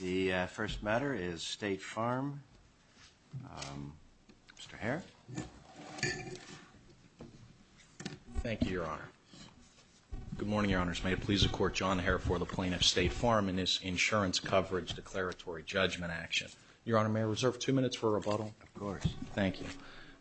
The first matter is State Farm. Mr. Herr. Thank you, Your Honor. Good morning, Your Honors. May it please the Court, John Herr for the plaintiff, State Farm, in this insurance coverage declaratory judgment action. Your Honor, may I reserve two minutes for rebuttal? Of course. Thank you.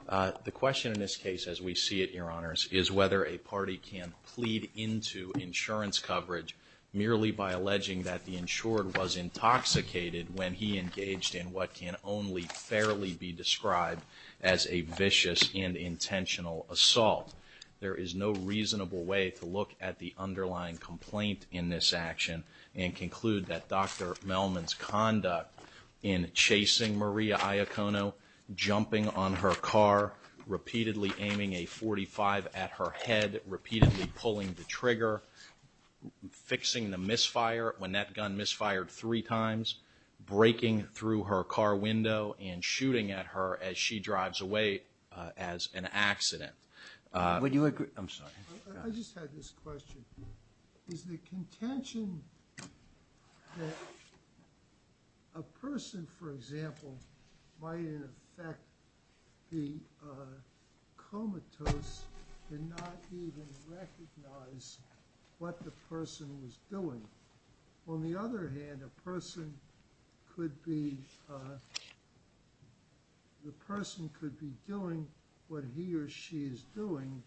The question in this case, as we see it, Your Honors, is whether a party can plead into insurance coverage merely by insured was intoxicated when he engaged in what can only fairly be described as a vicious and intentional assault. There is no reasonable way to look at the underlying complaint in this action and conclude that Dr. Mehlman's conduct in chasing Maria Iacono, jumping on her car, repeatedly aiming a .45 at her head, repeatedly pulling the trigger, fixing the misfire when that gun misfired three times, breaking through her car window, and shooting at her as she drives away as an accident. Would you agree? I'm sorry. I just had this question. Is the contention that a person, for example, might in effect be comatose and not even recognize what the person was doing? On the other hand, a person could be, the person could be doing what he or she is doing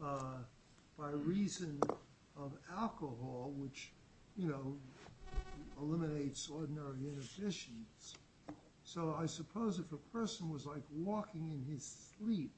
by reason of alcohol, which, you know, eliminates ordinary inhibitions. So I suppose if a person was like walking in his sleep,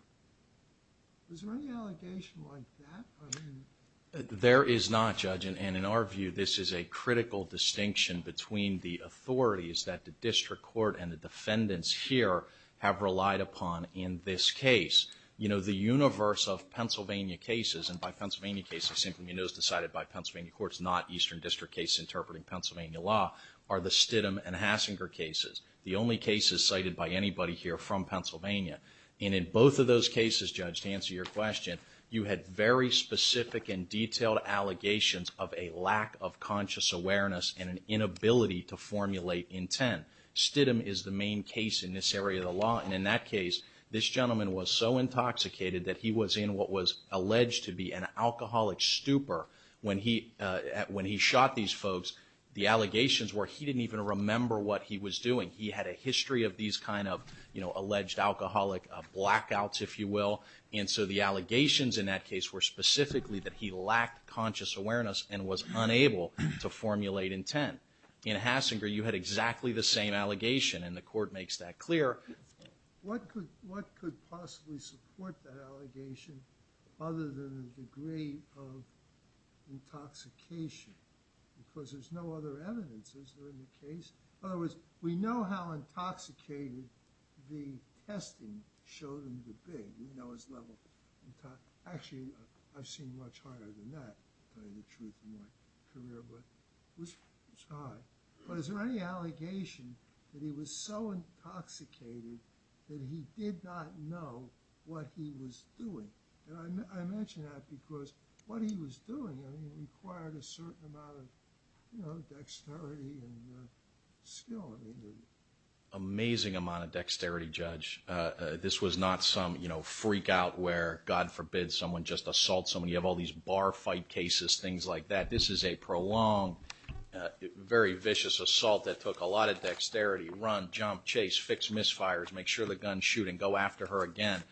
is there any allegation like that? There is not, Judge. And in our view, this is a critical distinction between the authorities that the District Court and the defendants here have relied upon in this case. You know, the universe of Pennsylvania cases, and by Pennsylvania cases, it simply means it was decided by Pennsylvania courts, not Eastern District case interpreting Pennsylvania law, are the Stidham and Hassinger cases, the only cases cited by anybody here from Pennsylvania. And in both of those cases, Judge, to answer your question, you had very specific and detailed allegations of a lack of conscious awareness. In this case, this gentleman was so intoxicated that he was in what was alleged to be an alcoholic stupor. When he, when he shot these folks, the allegations were he didn't even remember what he was doing. He had a history of these kind of, you know, alleged alcoholic blackouts, if you will. And so the allegations in that case were specifically that he lacked conscious awareness and was unable to formulate intent. In Hassinger, you had exactly the same allegation, and the Court makes that clear. What could, what could possibly support that allegation, other than a degree of intoxication? Because there's no other evidence, is there, in the case? In other words, we know how intoxicated the testing showed him to be, we know his level. Actually, I've seen much higher than that, to tell you the truth, in my career, but it was high. But is there any allegation that he was so intoxicated that he did not know what he was doing? And I mention that because what he was doing, I mean, required a certain amount of, you know, dexterity and skill. Amazing amount of dexterity, Judge. This was not some, you know, freak out where, God forbid, someone just assaults someone. You have all these bar fight cases, things like that. This is a prolonged, very vicious assault that took a lot of dexterity. Run, jump, chase, fix misfires, make sure the gun's shooting, go after her again.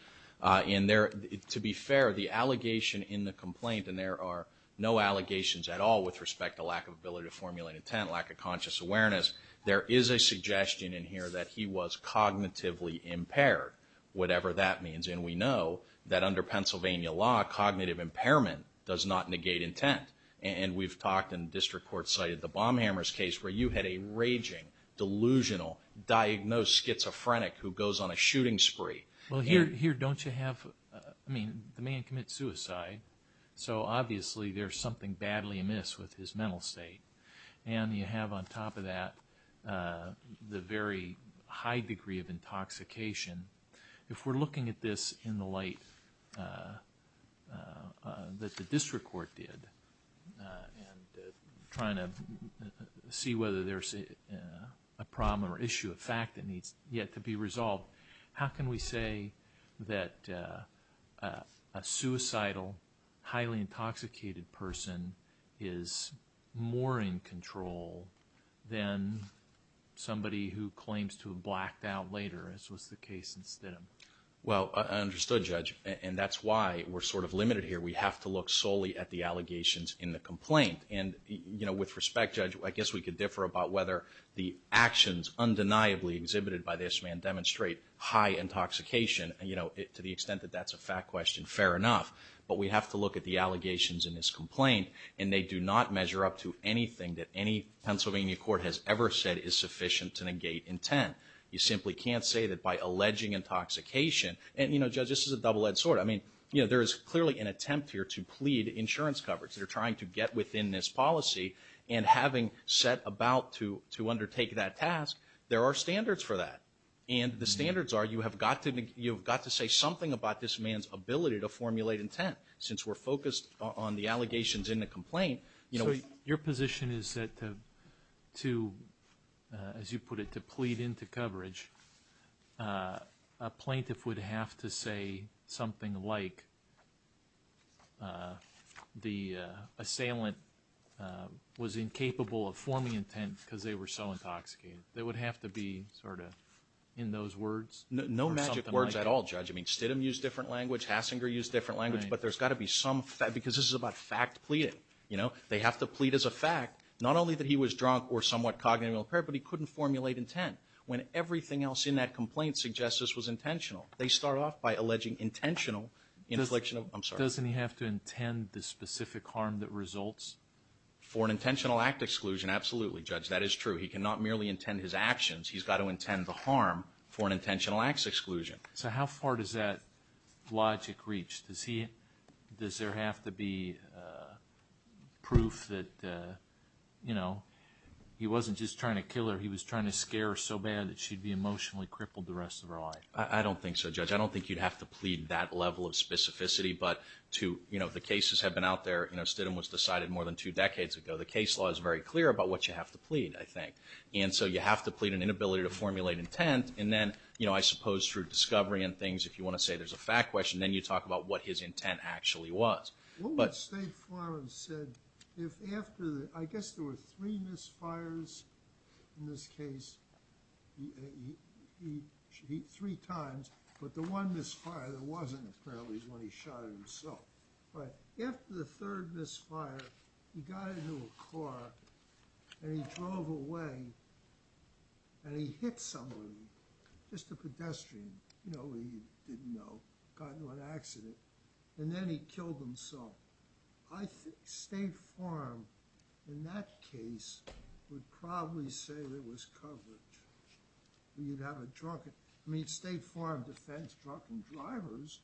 And there, to be fair, the allegation in the complaint, and there are no allegations at all with respect to lack of ability to formulate intent, lack of conscious awareness, there is a suggestion in here that he was cognitively impaired, whatever that means. And we know that under Pennsylvania law, cognitive impairment does not negate intent. And we've talked, and the District Court cited the Bomb Hammers case, where you had a raging, delusional, diagnosed schizophrenic who goes on a shooting spree. Well, here, don't you have, I mean, the man commits suicide, so obviously there's something badly amiss with his mental state. And you have on top of that, the very high degree of intoxication. If we're looking at this in the light that the District Court did, and trying to see whether there's a problem or issue of fact that needs yet to be resolved, how can we say that a suicidal, highly intoxicated person is more in control than somebody who claims to have blacked out later, as was the case in Stidham? Well, understood, Judge. And that's why we're sort of limited here. We have to look solely at the allegations in the complaint. And, you know, with respect, Judge, I guess we could differ about whether the actions undeniably exhibited by this man demonstrate high intoxication. You know, to the extent that that's a fact question, fair enough. But we have to look at the allegations in this complaint, and they do not measure up to anything that any Pennsylvania court has ever said is sufficient to negate intent. You simply can't say that by alleging intoxication, and, you know, Judge, this is a double-edged sword. I mean, you know, there is clearly an attempt here to plead insurance coverage. They're trying to get within this policy, and having set about to undertake that task, there are standards for that. And the standards are, you have got to say something about this man's ability to formulate intent. Since we're focused on the allegations in the complaint, you know, if... As you put it, to plead into coverage, a plaintiff would have to say something like, the assailant was incapable of forming intent because they were so intoxicated. They would have to be sort of, in those words, or something like that. Well, Judge, I mean, Stidham used different language, Hassinger used different language, but there's got to be some... Because this is about fact pleading. You know, they have to plead as a fact, not only that he was drunk or somewhat cognitively impaired, but he couldn't formulate intent. When everything else in that complaint suggests this was intentional, they start off by alleging intentional infliction of... I'm sorry. Doesn't he have to intend the specific harm that results? For an intentional act exclusion, absolutely, Judge. That is true. He cannot merely intend his actions. He's got to intend the harm for an intentional acts exclusion. So how far does that logic reach? Does he... Does there have to be proof that, you know, he wasn't just trying to kill her, he was trying to scare her so bad that she'd be emotionally crippled the rest of her life? I don't think so, Judge. I don't think you'd have to plead that level of specificity, but to... You know, the cases have been out there. You know, Stidham was decided more than two decades ago. The case law is very clear about what you have to plead, I think. And so you have to plead an inability to formulate intent. And then, you know, I suppose through discovery and things, if you want to say there's a fact question, then you talk about what his intent actually was. But... I think State Farm, in that case, would probably say there was coverage. You'd have a drunken... I mean, State Farm defends drunken drivers.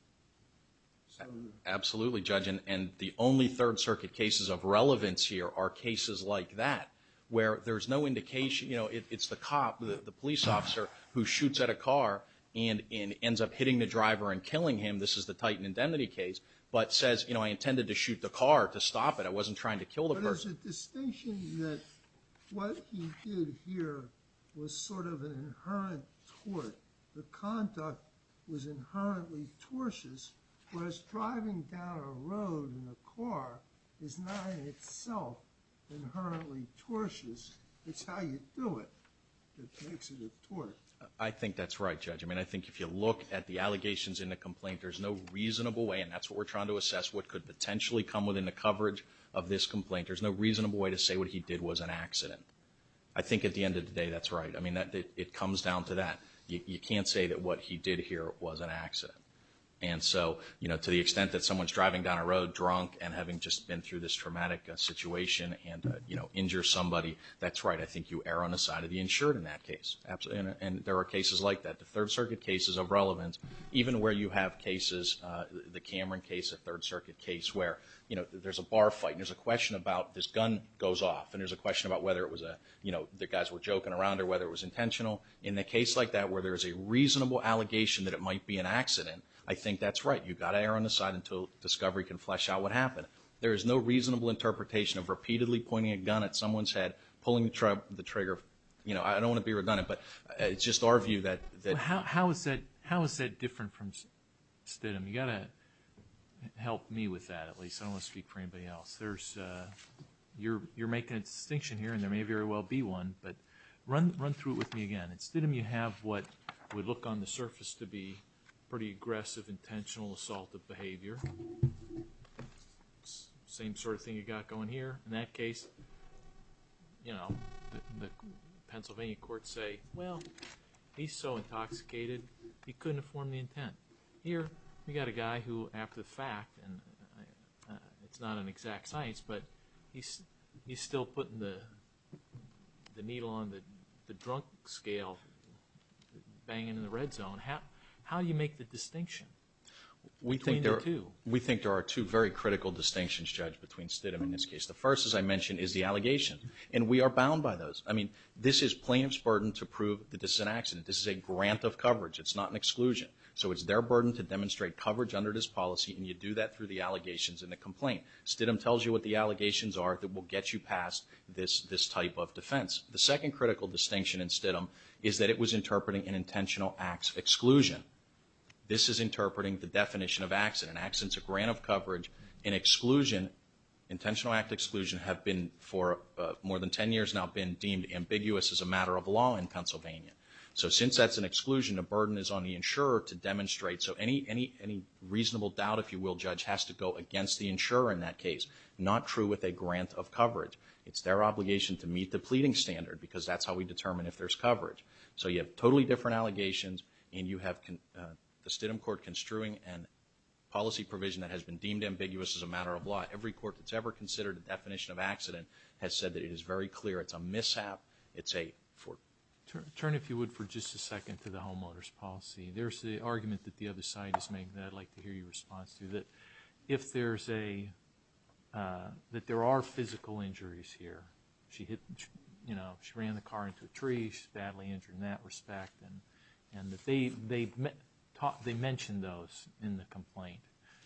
Absolutely, Judge. And the only Third Circuit cases of relevance here are cases like that, where there's no indication... You know, it's the cop, the police officer, who shoots at a car and ends up hitting the driver and killing him. This is the Titan Indemnity case, but says, you know, I intended to shoot the car to stop it. I wasn't trying to kill the person. There's a distinction that what he did here was sort of an inherent tort. The conduct was inherently tortious, whereas driving down a road in a car is not in itself inherently tortious. It's how you do it that makes it a tort. I think that's right, Judge. I mean, I think if you look at the allegations in the complaint, there's no reasonable way, and that's what we're trying to assess, what could potentially come within the coverage of this complaint. There's no reasonable way to say what he did was an accident. I think at the end of the day, that's right. I mean, it comes down to that. You can't say that what he did here was an accident. And so, you know, to the extent that someone's driving down a road drunk and having just been through this traumatic situation and, you know, injures somebody, that's right. I think you err on the side of the insured in that case. And there are cases like that. The Third Circuit cases are relevant. Even where you have cases, the Cameron case, the Third Circuit case, where, you know, there's a bar fight and there's a question about this gun goes off, and there's a question about whether it was a, you know, the guys were joking around or whether it was intentional. In a case like that, where there's a reasonable allegation that it might be an accident, I think that's right. You've got to err on the side until discovery can flesh out what happened. There is no reasonable interpretation of repeatedly pointing a gun at someone's head, pulling the trigger. You know, I don't want to be redundant, but it's just our view that… You've got to help me with that at least. I don't want to speak for anybody else. You're making a distinction here, and there may very well be one, but run through it with me again. Instead of you have what would look on the surface to be pretty aggressive, intentional assaultive behavior, same sort of thing you've got going here, in that case, you know, the Pennsylvania courts say, well, he's so intoxicated, he couldn't have formed the intent. Here, we've got a guy who, after the fact, and it's not an exact science, but he's still putting the needle on the drunk scale, banging in the red zone. How do you make the distinction between the two? We think there are two very critical distinctions, Judge, between Stidham and this case. The first, as I mentioned, is the allegations, and we are bound by those. I mean, this is plaintiff's burden to prove that this is an accident. This is a grant of coverage. It's not an exclusion. So it's their burden to demonstrate coverage under this policy, and you do that through the allegations and the complaint. Stidham tells you what the allegations are that will get you past this type of defense. The second critical distinction in Stidham is that it was interpreting an intentional acts exclusion. This is interpreting the definition of accident. Accident's a grant of coverage. An exclusion, intentional act exclusion, have been for more than 10 years now been deemed ambiguous as a matter of law in Pennsylvania. So since that's an exclusion, a burden is on the insurer to demonstrate. So any reasonable doubt, if you will, Judge, has to go against the insurer in that case. Not true with a grant of coverage. It's their obligation to meet the pleading standard, because that's how we determine if there's coverage. So you have totally different allegations, and you have the Stidham court construing a policy provision that has been deemed ambiguous as a matter of law. Every court that's ever considered the definition of accident has said that it is very clear it's a mishap. It's a... Turn, if you would, for just a second to the homeowner's policy. There's the argument that the other side has made that I'd like to hear your response to, that if there's a, that there are physical injuries here. She hit, you know, she ran the car into a tree, she's badly injured in that respect, and that they mentioned those in the complaint,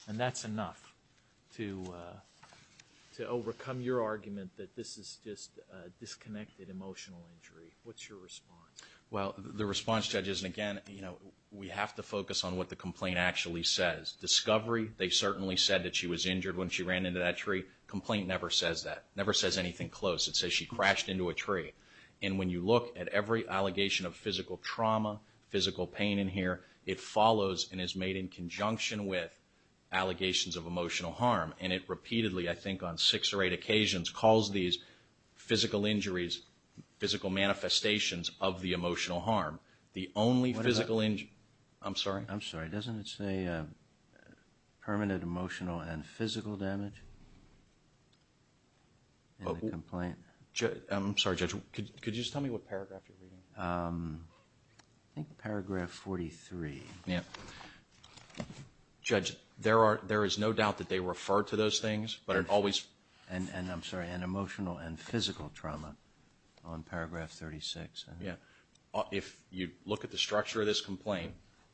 and that's enough to overcome your argument that this is just a disconnected emotional injury. What's your response? Well, the response, Judge, is again, you know, we have to focus on what the complaint actually says. Discovery, they certainly said that she was injured when she ran into that tree. Complaint never says that, never says anything close. It says she crashed into a tree. And when you look at every allegation of physical trauma, physical pain in here, it follows and is made in conjunction with allegations of emotional harm, and it repeatedly, I think on six or eight occasions, calls these physical injuries, physical manifestations of the emotional harm. The only physical... I'm sorry? I'm sorry. Doesn't it say permanent emotional and physical damage in the complaint? I'm sorry, Judge, could you just tell me what paragraph you're reading? I think paragraph 43. Yeah. Judge, there is no doubt that they refer to those things, but it always... And I'm sorry, and emotional and physical trauma on paragraph 36. Yeah. If you look at the structure of this complaint,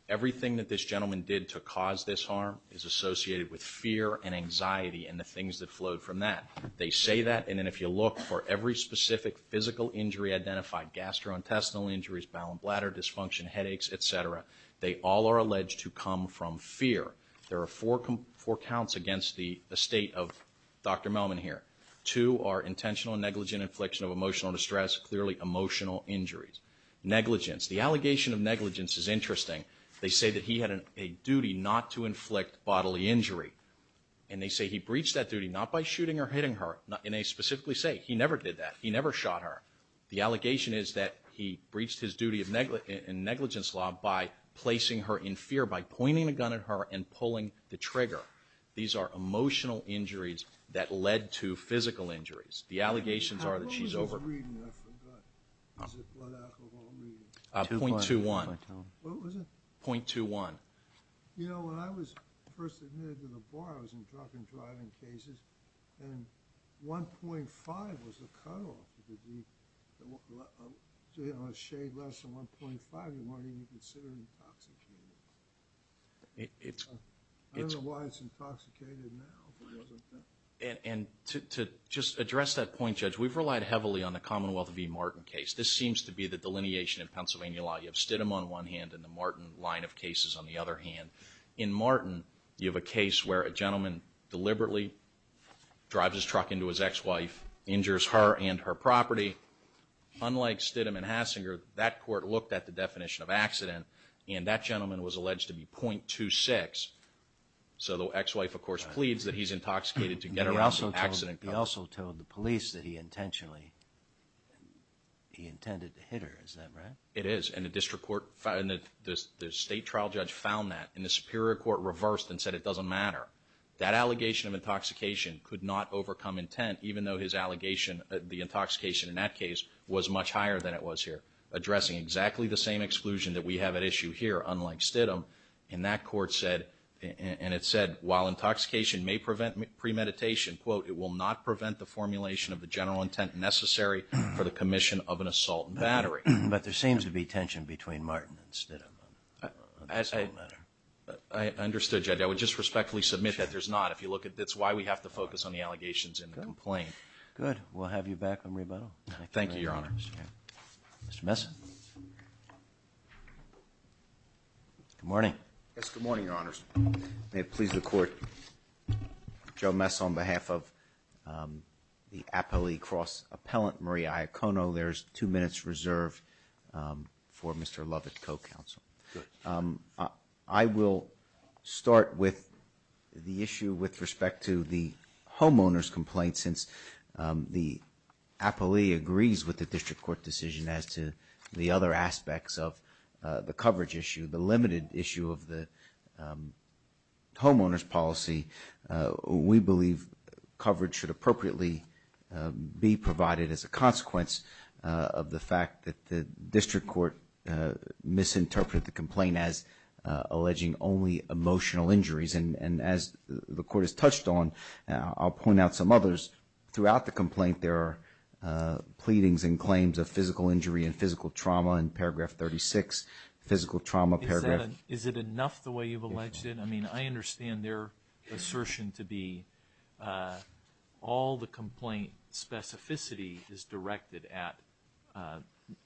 everything that this gentleman did to cause this harm is associated with fear and anxiety and the things that flowed from that. They say that, and then if you look for every specific physical injury identified, gastrointestinal injuries, bowel and bladder dysfunction, headaches, et cetera, they all are alleged to come from fear. There are four counts against the estate of Dr. Melman here. Two are intentional and negligent infliction of emotional distress, clearly emotional injuries. Negligence. The allegation of negligence is interesting. They say that he had a duty not to inflict bodily injury, and they say he breached that duty not by shooting or hitting her, and they specifically say he never did that. He never shot her. The allegation is that he breached his duty in negligence law by placing her in fear, by pointing a gun at her and pulling the trigger. These are emotional injuries that led to physical injuries. The allegations are that she's over... How long is his reading? I forgot. Is it blood alcohol reading? 0.21. What was it? 0.21. You know, when I was first admitted to the bar, I was in drug and driving cases, and 1.5 was the cutoff. You know, a shade less than 1.5, you might even consider intoxicated. I don't know why it's intoxicated now, but it wasn't then. And to just address that point, Judge, we've relied heavily on the Commonwealth v. Martin case. This seems to be the delineation in Pennsylvania law. You have Stidham on one hand and the Martin line of cases on the other hand. In Martin, you have a case where a gentleman deliberately drives his truck into his ex-wife, injures her and her property. Unlike Stidham and Hassinger, that court looked at the definition of accident, and that gentleman was alleged to be 0.26. So the ex-wife, of course, pleads that he's intoxicated to get around the accident. He also told the police that he intentionally... he intended to hit her. Is that right? It is, and the district court... the state trial judge found that, and the superior court reversed and said it doesn't matter. That allegation of intoxication could not overcome intent, even though his allegation, the intoxication in that case, was much higher than it was here, addressing exactly the same exclusion that we have at issue here, unlike Stidham. And that court said, and it said, while intoxication may prevent premeditation, quote, it will not prevent the formulation of the general intent necessary for the commission of an assault and battery. But there seems to be tension between Martin and Stidham on this whole matter. I understood, Judge. I would just respectfully submit that there's not. If you look at... that's why we have to focus on the allegations in the complaint. Good. We'll have you back on rebuttal. Thank you, Your Honor. Mr. Messin. Good morning. Yes, good morning, Your Honors. May it please the court, Joe Messin on behalf of the appellee cross-appellant, Maria Iacono, there's two minutes reserved for Mr. Lovett, co-counsel. Good. I will start with the issue with respect to the homeowner's complaint, since the appellee agrees with the district court decision as to the other aspects of the coverage issue, the limited issue of the homeowner's policy. We believe coverage should appropriately be provided as a consequence of the fact that the district court misinterpreted the complaint as alleging only emotional injuries. And as the court has touched on, I'll point out some others. Throughout the complaint, there are pleadings and claims of physical injury and physical trauma in paragraph 36, physical trauma, paragraph... Is it enough the way you've alleged it? I mean, I understand their assertion to be all the complaint specificity is directed at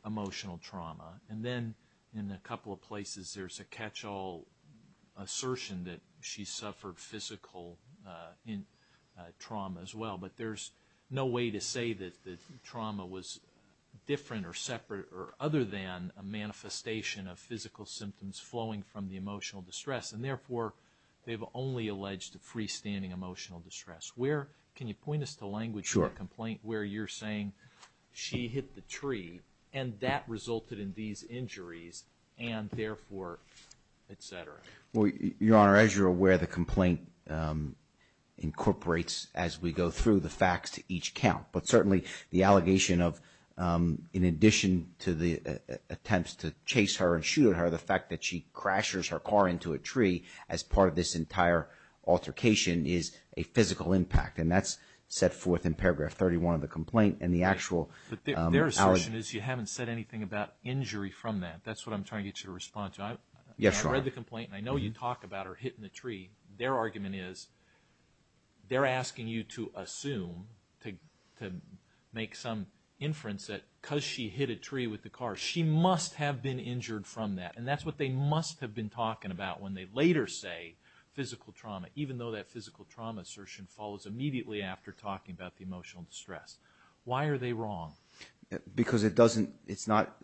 emotional trauma. And then in a couple of places there's a catch-all assertion that she suffered physical trauma as well. But there's no way to say that the trauma was different or separate or other than a manifestation of physical symptoms flowing from the emotional distress. And therefore, they've only alleged a freestanding emotional distress. Can you point us to language for a complaint where you're saying she hit the tree and that resulted in these injuries and therefore, et cetera? Well, Your Honor, as you're aware, the complaint incorporates, as we go through, the facts to each count. But certainly, the allegation of, in addition to the attempts to chase her and shoot at her, the fact that she crashes her car into a tree as part of this entire altercation is a physical impact. And that's set forth in paragraph 31 of the complaint. But their assertion is you haven't said anything about injury from that. That's what I'm trying to get you to respond to. Yes, Your Honor. I read the complaint, and I know you talk about her hitting the tree. Their argument is they're asking you to assume, to make some inference that because she hit a tree with the car, she must have been injured from that. And that's what they must have been talking about when they later say physical trauma, even though that physical trauma assertion follows immediately after talking about the emotional distress. Why are they wrong? Because it's not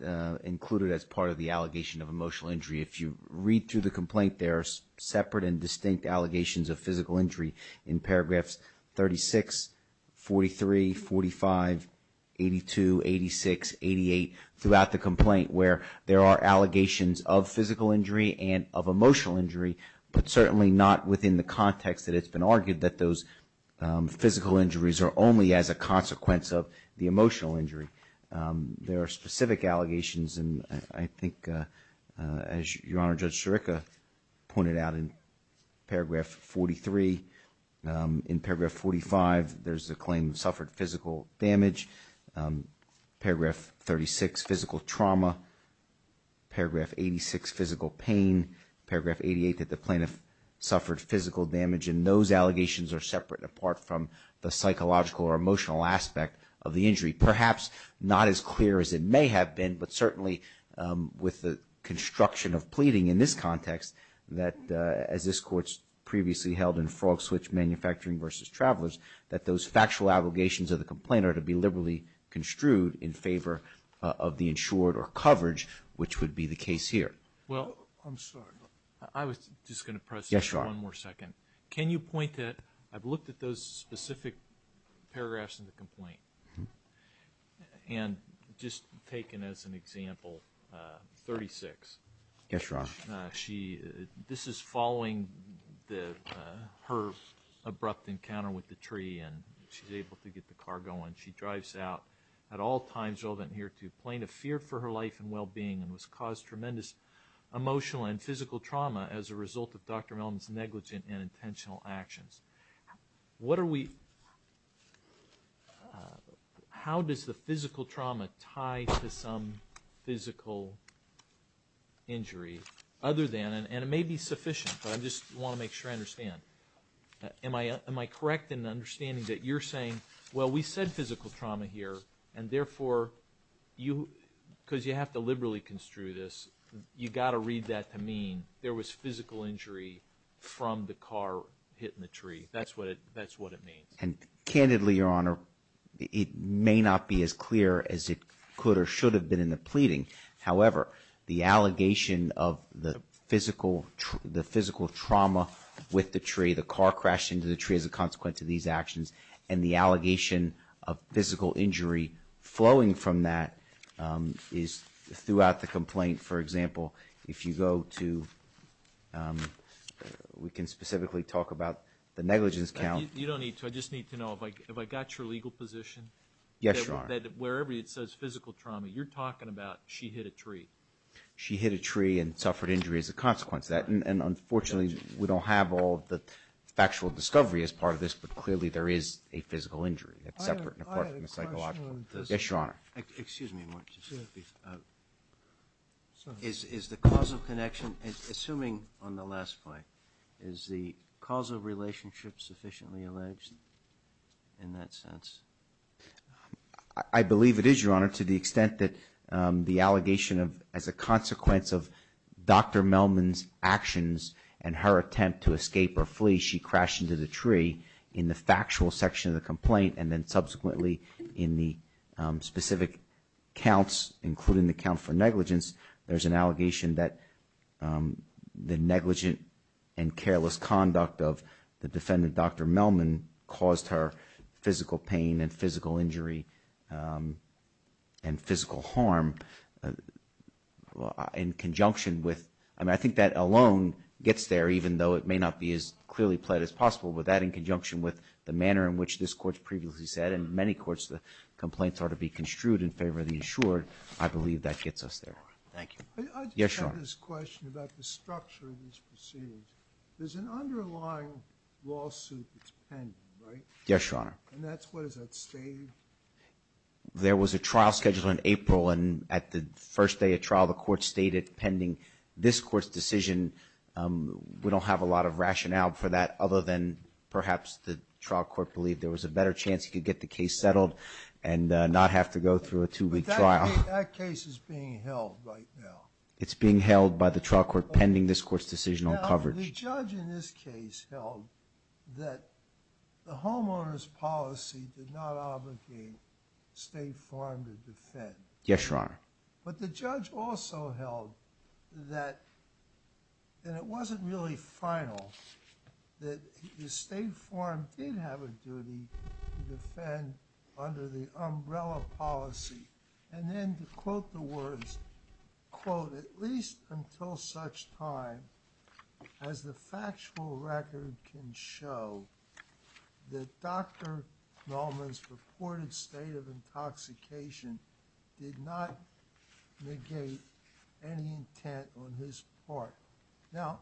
included as part of the allegation of emotional injury. If you read through the complaint, there are separate and distinct allegations of physical injury in paragraphs 36, 43, 45, 82, 86, 88, throughout the complaint where there are allegations of physical injury and of emotional injury, but certainly not within the context that it's been argued that those physical injuries are only as a consequence of the emotional injury. There are specific allegations, and I think, as Your Honor, Judge Sirica pointed out in paragraph 43. In paragraph 45, there's a claim of suffered physical damage. Paragraph 36, physical trauma. Paragraph 86, physical pain. Paragraph 88, that the plaintiff suffered physical damage, and those allegations are separate and apart from the psychological or emotional aspect of the injury. Perhaps not as clear as it may have been, but certainly with the construction of pleading in this context, that as this Court's previously held in Frog Switch Manufacturing v. Travelers, that those factual allegations of the complaint are to be liberally construed in favor of the insured or coverage, which would be the case here. Well, I'm sorry. I was just going to press you for one more second. Yes, Your Honor. Can you point to it? I've looked at those specific paragraphs in the complaint, and just taken as an example, 36. Yes, Your Honor. This is following her abrupt encounter with the tree, and she's able to get the car going. She drives out at all times relevant here to plaintiff, feared for her life and well-being, and was caused tremendous emotional and physical trauma as a result of Dr. Mellon's negligent and intentional actions. How does the physical trauma tie to some physical injury other than, and it may be sufficient, but I just want to make sure I understand, am I correct in understanding that you're saying, well, we said physical trauma here, and therefore, because you have to liberally construe this, you've got to read that to mean there was physical injury from the car hitting the tree. That's what it means. And candidly, Your Honor, it may not be as clear as it could or should have been in the pleading. However, the allegation of the physical trauma with the tree, the car crash into the tree as a consequence of these actions, and the allegation of physical injury flowing from that is throughout the complaint. For example, if you go to, we can specifically talk about the negligence count. You don't need to. I just need to know, have I got your legal position? Yes, Your Honor. That wherever it says physical trauma, you're talking about she hit a tree. She hit a tree and suffered injury as a consequence of that. And unfortunately, we don't have all the factual discovery as part of this, but clearly there is a physical injury that's separate and apart from the psychological. I have a question on this. Yes, Your Honor. Excuse me. Is the causal connection, assuming on the last point, is the causal relationship sufficiently alleged in that sense? I believe it is, Your Honor, to the extent that the allegation as a consequence of Dr. Melman's actions and her attempt to escape or flee, she crashed into the tree in the factual section of the complaint, and then subsequently in the specific counts, including the count for negligence, there's an allegation that the negligent and careless conduct of the defendant, Dr. Melman, caused her physical pain and physical injury and physical harm in conjunction with, I mean, I think that alone gets there, even though it may not be as clearly pled as possible, but that in conjunction with the manner in which this Court's previously said, and in many courts the complaints are to be construed in favor of the insured, I believe that gets us there. Thank you. Yes, Your Honor. I just have this question about the structure of these proceedings. There's an underlying lawsuit that's pending, right? Yes, Your Honor. And that's what is at stake? There was a trial scheduled in April, and at the first day of trial the Court stated pending this Court's decision, we don't have a lot of rationale for that other than perhaps the trial court believed there was a better chance you could get the case settled and not have to go through a two-week trial. But that case is being held right now. It's being held by the trial court pending this Court's decision on coverage. The judge in this case held that the homeowner's policy did not obligate State Farm to defend. Yes, Your Honor. But the judge also held that it wasn't really final that State Farm did have a duty to defend under the umbrella policy, and then to quote the words, quote, at least until such time as the factual record can show that Dr. Nolman's purported state of intoxication did not negate any intent on his part. Now,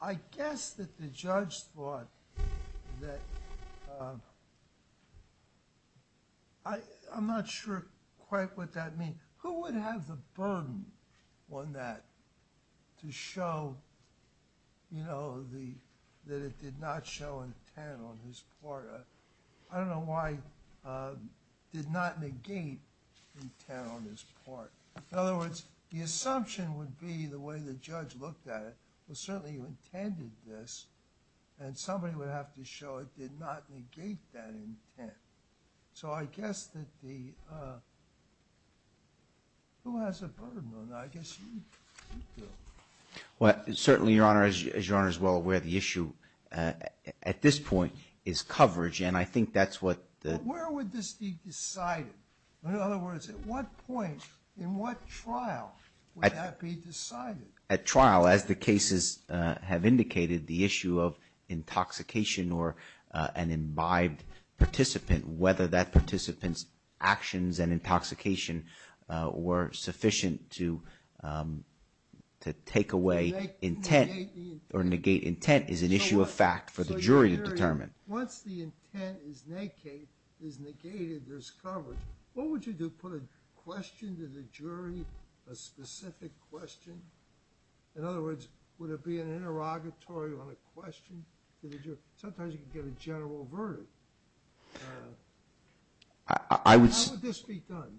I guess that the judge thought that I'm not sure quite what that means. Who would have the burden on that to show that it did not show intent on his part? I don't know why did not negate intent on his part. In other words, the assumption would be the way the judge looked at it was certainly he intended this, and somebody would have to show it did not negate that intent. So I guess that the – who has a burden on that? I guess you do. Well, certainly, Your Honor, as Your Honor is well aware, the issue at this point is coverage, and I think that's what the – But where would this be decided? In other words, at what point in what trial would that be decided? At trial, as the cases have indicated, the issue of intoxication or an imbibed participant, whether that participant's actions and intoxication were sufficient to take away intent or negate intent is an issue of fact for the jury to determine. Once the intent is negated, there's coverage. What would you do? Put a question to the jury, a specific question? In other words, would it be an interrogatory on a question to the jury? Sometimes you can get a general verdict. How would this be done?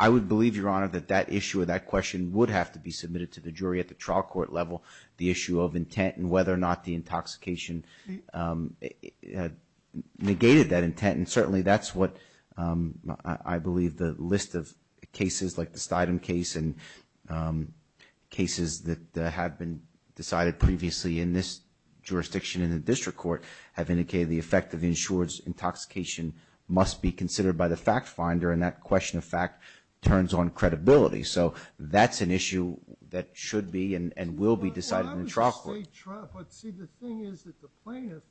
I would believe, Your Honor, that that issue or that question would have to be submitted to the jury at the trial court level, the issue of intent and whether or not the intoxication negated that intent. And certainly that's what I believe the list of cases like the Stidham case and cases that have been decided previously in this jurisdiction in the district court have indicated the effect of insurer's intoxication must be considered by the fact finder, and that question of fact turns on credibility. So that's an issue that should be and will be decided in trial court. But see, the thing is that the plaintiff,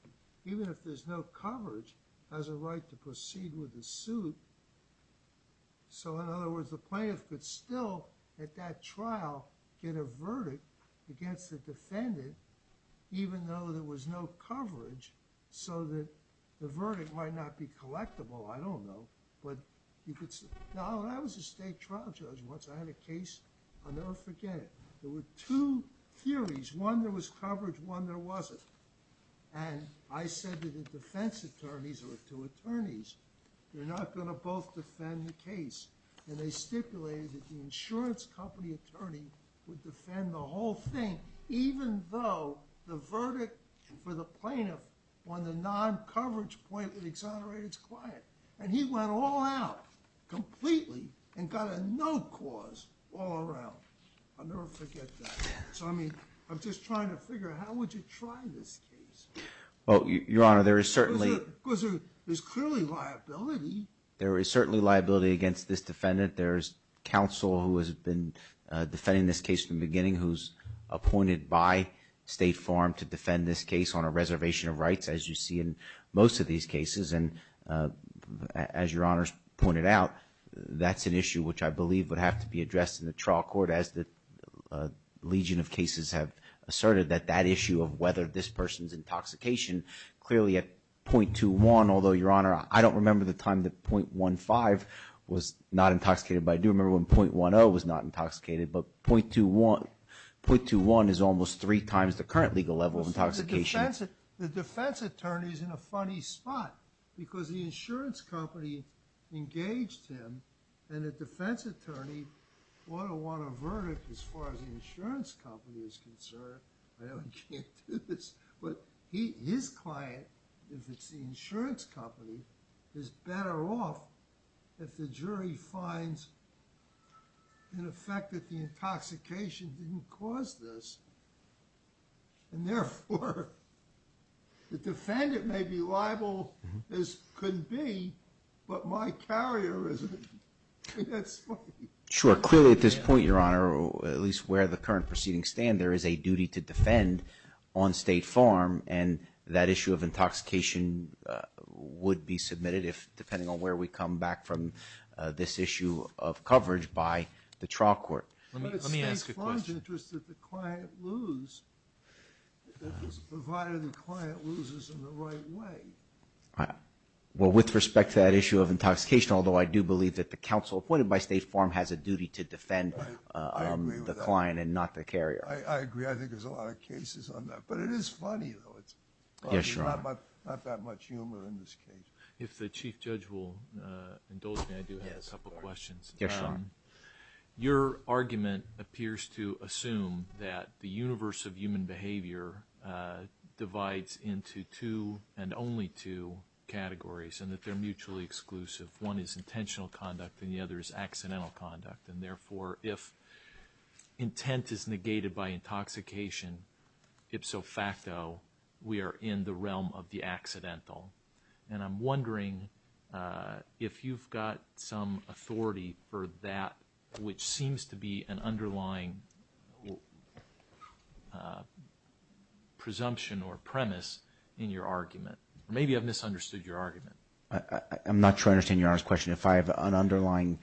even if there's no coverage, has a right to proceed with the suit. So in other words, the plaintiff could still, at that trial, get a verdict against the defendant even though there was no coverage so that the verdict might not be collectible. I don't know. I was a state trial judge once. I had a case. I'll never forget it. There were two theories. One, there was coverage. One, there wasn't. And I said to the defense attorneys or to attorneys, you're not going to both defend the case. And they stipulated that the insurance company attorney would defend the whole thing even though the verdict for the plaintiff on the non-coverage point would exonerate its client. And he went all out completely and got a no cause all around. I'll never forget that. So, I mean, I'm just trying to figure out how would you try this case? Well, Your Honor, there is certainly. Because there's clearly liability. There is certainly liability against this defendant. There is counsel who has been defending this case from the beginning, who's appointed by State Farm to defend this case on a reservation of rights, as you see in most of these cases. And as Your Honor has pointed out, that's an issue which I believe would have to be addressed in the trial court as the legion of cases have asserted, that that issue of whether this person's intoxication clearly at .21, although, Your Honor, I don't remember the time that .15 was not intoxicated, but I do remember when .10 was not intoxicated. But .21 is almost three times the current legal level of intoxication. The defense attorney is in a funny spot because the insurance company engaged him and the defense attorney ought to want a verdict as far as the insurance company is concerned. I know he can't do this, but his client, if it's the insurance company, is better off if the jury finds, in effect, that the intoxication didn't cause this. And therefore, the defendant may be liable as could be, but my carrier isn't. I mean, that's funny. Sure. Clearly at this point, Your Honor, or at least where the current proceedings stand, there is a duty to defend on State Farm, and that issue of intoxication would be submitted, depending on where we come back from, this issue of coverage by the trial court. Let me ask a question. In the interest that the client lose, provided the client loses in the right way. Well, with respect to that issue of intoxication, although I do believe that the counsel appointed by State Farm has a duty to defend the client and not the carrier. I agree. I think there's a lot of cases on that. But it is funny, though. Yes, Your Honor. Not that much humor in this case. If the Chief Judge will indulge me, I do have a couple questions. Yes, Your Honor. Your argument appears to assume that the universe of human behavior divides into two and only two categories, and that they're mutually exclusive. One is intentional conduct, and the other is accidental conduct. And therefore, if intent is negated by intoxication, ipso facto, we are in the realm of the accidental. And I'm wondering if you've got some authority for that, which seems to be an underlying presumption or premise in your argument. Maybe I've misunderstood your argument. I'm not sure I understand Your Honor's question. If I have an underlying...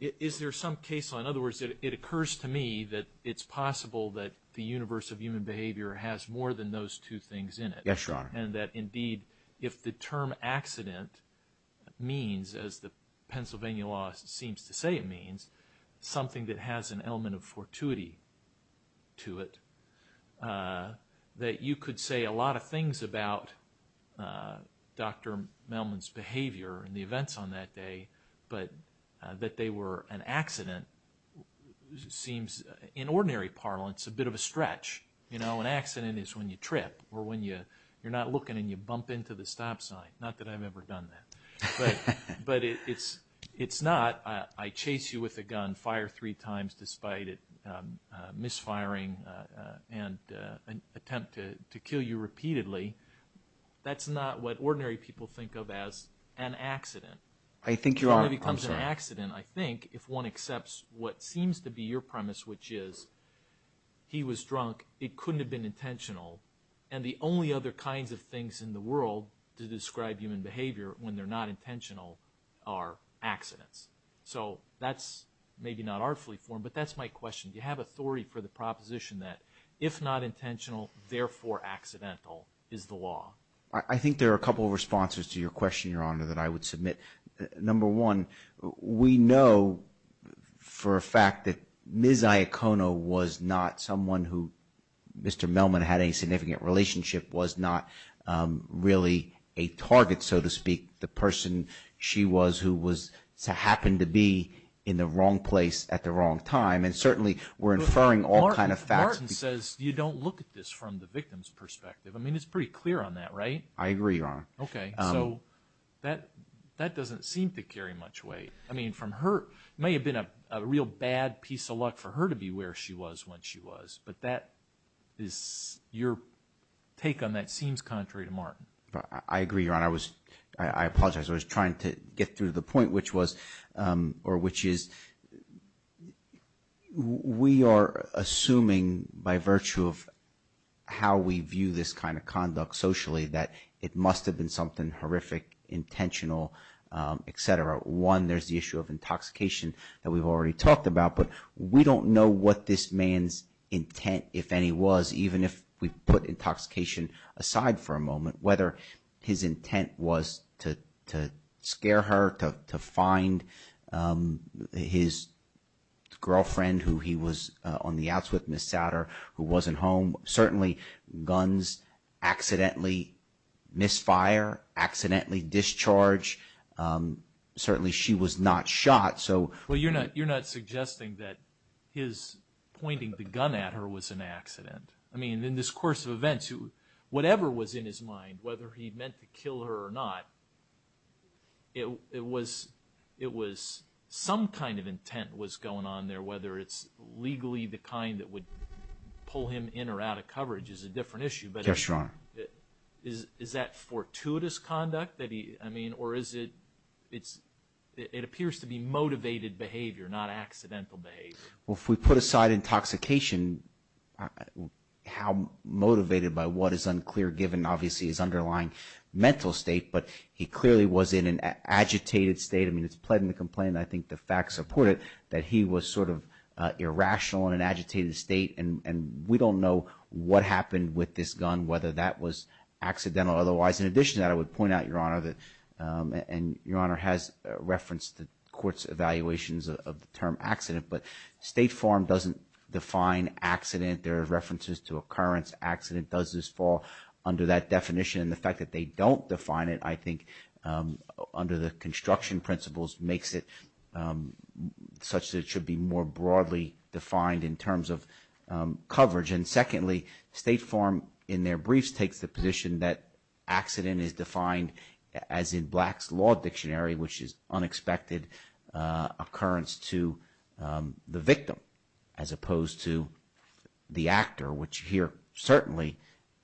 Is there some case, in other words, it occurs to me that it's possible that the universe of human behavior has more than those two things in it. Yes, Your Honor. And that, indeed, if the term accident means, as the Pennsylvania law seems to say it means, something that has an element of fortuity to it, that you could say a lot of things about Dr. Melman's behavior and the events on that day, but that they were an accident seems, in ordinary parlance, a bit of a stretch. You know, an accident is when you trip, or when you're not looking and you bump into the stop sign. Not that I've ever done that. But it's not, I chase you with a gun, fire three times despite it misfiring, and attempt to kill you repeatedly. That's not what ordinary people think of as an accident. I think Your Honor... It couldn't have been intentional. And the only other kinds of things in the world to describe human behavior when they're not intentional are accidents. So that's maybe not artfully formed, but that's my question. Do you have authority for the proposition that if not intentional, therefore accidental, is the law? I think there are a couple of responses to your question, Your Honor, that I would submit. Number one, we know for a fact that Ms. Iacono was not someone who Mr. Melman had a significant relationship with, was not really a target, so to speak, the person she was who happened to be in the wrong place at the wrong time. And certainly we're inferring all kinds of facts. Martin says you don't look at this from the victim's perspective. I mean, it's pretty clear on that, right? I agree, Your Honor. Okay. So that doesn't seem to carry much weight. I mean, it may have been a real bad piece of luck for her to be where she was when she was, but your take on that seems contrary to Martin. I agree, Your Honor. I apologize. I was trying to get through the point, which is we are assuming by virtue of how we view this kind of conduct socially that it must have been something horrific, intentional, et cetera. One, there's the issue of intoxication that we've already talked about, but we don't know what this man's intent, if any, was, even if we put intoxication aside for a moment, whether his intent was to scare her, to find his girlfriend who he was on the outs with, Ms. Satter, who wasn't home. Certainly, guns accidentally misfire, accidentally discharge. Certainly, she was not shot. Well, you're not suggesting that his pointing the gun at her was an accident. I mean, in this course of events, whatever was in his mind, whether he meant to kill her or not, it was some kind of intent was going on there, whether it's legally the kind that would pull him in or out of coverage is a different issue. Yes, Your Honor. Is that fortuitous conduct that he, I mean, or is it, it appears to be motivated behavior, not accidental behavior. Well, if we put aside intoxication, how motivated by what is unclear, given, obviously, his underlying mental state, but he clearly was in an agitated state. I mean, it's pled in the complaint, and I think the facts support it, that he was sort of irrational in an agitated state, and we don't know what happened with this gun, whether that was accidental or otherwise. In addition to that, I would point out, Your Honor, that, and Your Honor has referenced the court's evaluations of the term accident, but State Farm doesn't define accident. There are references to occurrence, accident does this fall under that definition, and the fact that they don't define it, I think, under the construction principles, makes it such that it should be more broadly defined in terms of coverage, and secondly, State Farm, in their briefs, takes the position that accident is defined as in Black's Law Dictionary, which is unexpected occurrence to the victim, as opposed to the actor, which here, certainly,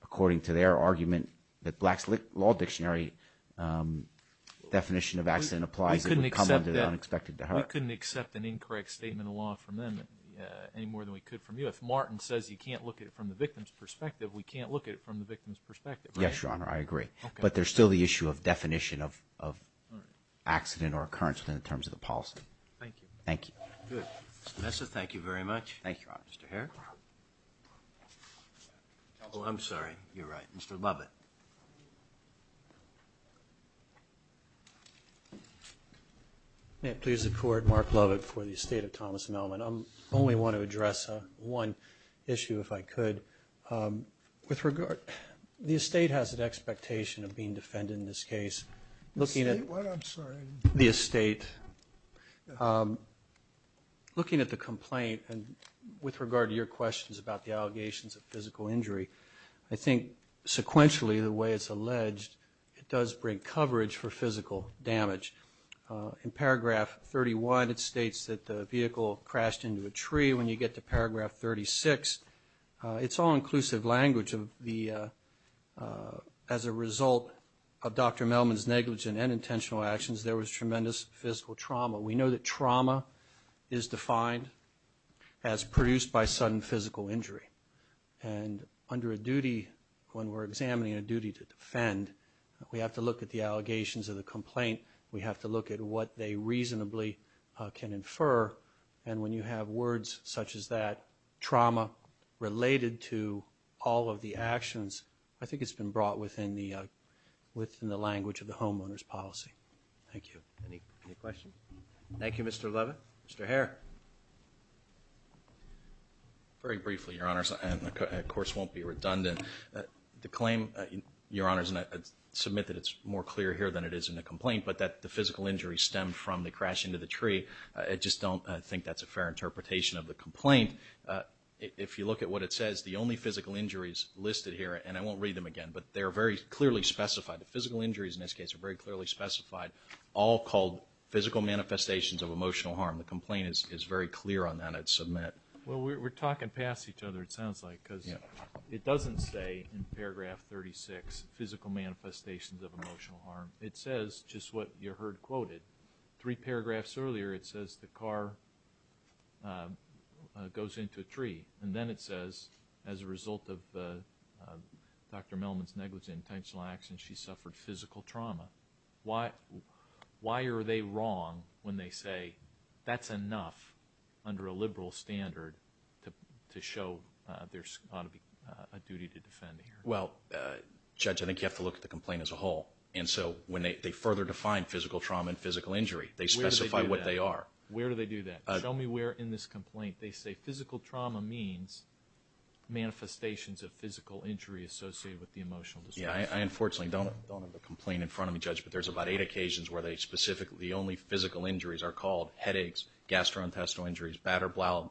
according to their argument, that Black's Law Dictionary definition of accident applies, it would come under the unexpected to her. We couldn't accept an incorrect statement of law from them any more than we could from you. If Martin says you can't look at it from the victim's perspective, we can't look at it from the victim's perspective, right? Yes, Your Honor, I agree. Okay. But there's still the issue of definition of accident or occurrence in terms of the policy. Thank you. Thank you. Good. Mr. Mesa, thank you very much. Thank you, Your Honor. Mr. Herrick? Oh, I'm sorry, you're right. Mr. Lovett. May it please the Court, Mark Lovett for the estate of Thomas Mellman. I only want to address one issue, if I could. With regard, the estate has an expectation of being defended in this case. The estate, what? I'm sorry. The estate. Looking at the complaint and with regard to your questions about the allegations of physical injury, I think sequentially, the way it's alleged, it does bring coverage for physical damage. Paragraph 36, it's all inclusive language. As a result of Dr. Mellman's negligent and intentional actions, there was tremendous physical trauma. We know that trauma is defined as produced by sudden physical injury. And under a duty, when we're examining a duty to defend, we have to look at the allegations of the complaint. We have to look at what they reasonably can infer. And when you have words such as that, trauma related to all of the actions, I think it's been brought within the language of the homeowner's policy. Thank you. Any questions? Thank you, Mr. Lovett. Mr. Hare. Very briefly, Your Honors, and the course won't be redundant. The claim, Your Honors, and I submit that it's more clear here than it is in the complaint, but that the physical injury stemmed from the crash into the tree. I just don't think that's a fair interpretation of the complaint. If you look at what it says, the only physical injuries listed here, and I won't read them again, but they are very clearly specified. The physical injuries in this case are very clearly specified, all called physical manifestations of emotional harm. The complaint is very clear on that. I'd submit. Well, we're talking past each other, it sounds like, because it doesn't say in paragraph 36, physical manifestations of emotional harm. It says just what you heard quoted. Three paragraphs earlier it says the car goes into a tree, and then it says as a result of Dr. Mellman's negligent intentional actions, she suffered physical trauma. Why are they wrong when they say that's enough under a liberal standard to show there's a duty to defend here? Well, Judge, I think you have to look at the complaint as a whole. And so when they further define physical trauma and physical injury, they specify what they are. Where do they do that? Where do they do that? Show me where in this complaint they say physical trauma means manifestations of physical injury associated with the emotional dysfunction. Yeah, I unfortunately don't have a complaint in front of me, Judge, but there's about eight occasions where they specifically, the only physical injuries are called headaches, gastrointestinal injuries, bladder-bladder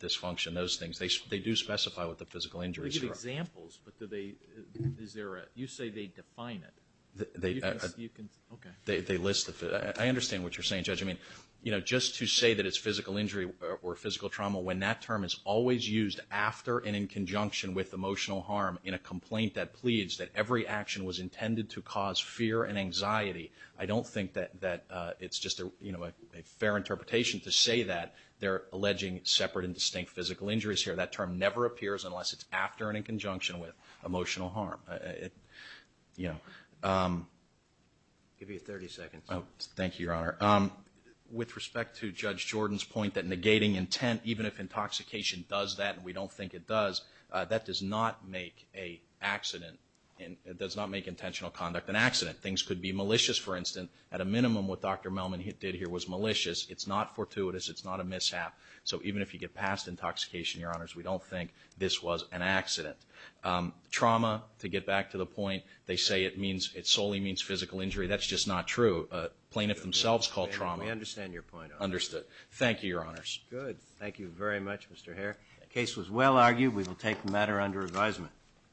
dysfunction, those things. They do specify what the physical injuries are. They give examples, but do they, is there a, you say they define it. You can, okay. They list, I understand what you're saying, Judge. I mean, you know, just to say that it's physical injury or physical trauma when that term is always used after and in conjunction with emotional harm in a complaint that pleads that every action was intended to cause fear and anxiety, I don't think that it's just a fair interpretation to say that they're alleging separate and distinct physical injuries here. That term never appears unless it's after and in conjunction with emotional harm. Yeah. I'll give you 30 seconds. Oh, thank you, Your Honor. With respect to Judge Jordan's point that negating intent, even if intoxication does that and we don't think it does, that does not make an accident, it does not make intentional conduct an accident. Things could be malicious, for instance. At a minimum, what Dr. Melman did here was malicious. It's not fortuitous. It's not a mishap. So even if you get past intoxication, Your Honors, we don't think this was an accident. Trauma, to get back to the point, they say it solely means physical injury. That's just not true. Plaintiffs themselves call trauma. We understand your point. Understood. Thank you, Your Honors. Good. Thank you very much, Mr. Hare. The case was well argued. We will take the matter under advisement.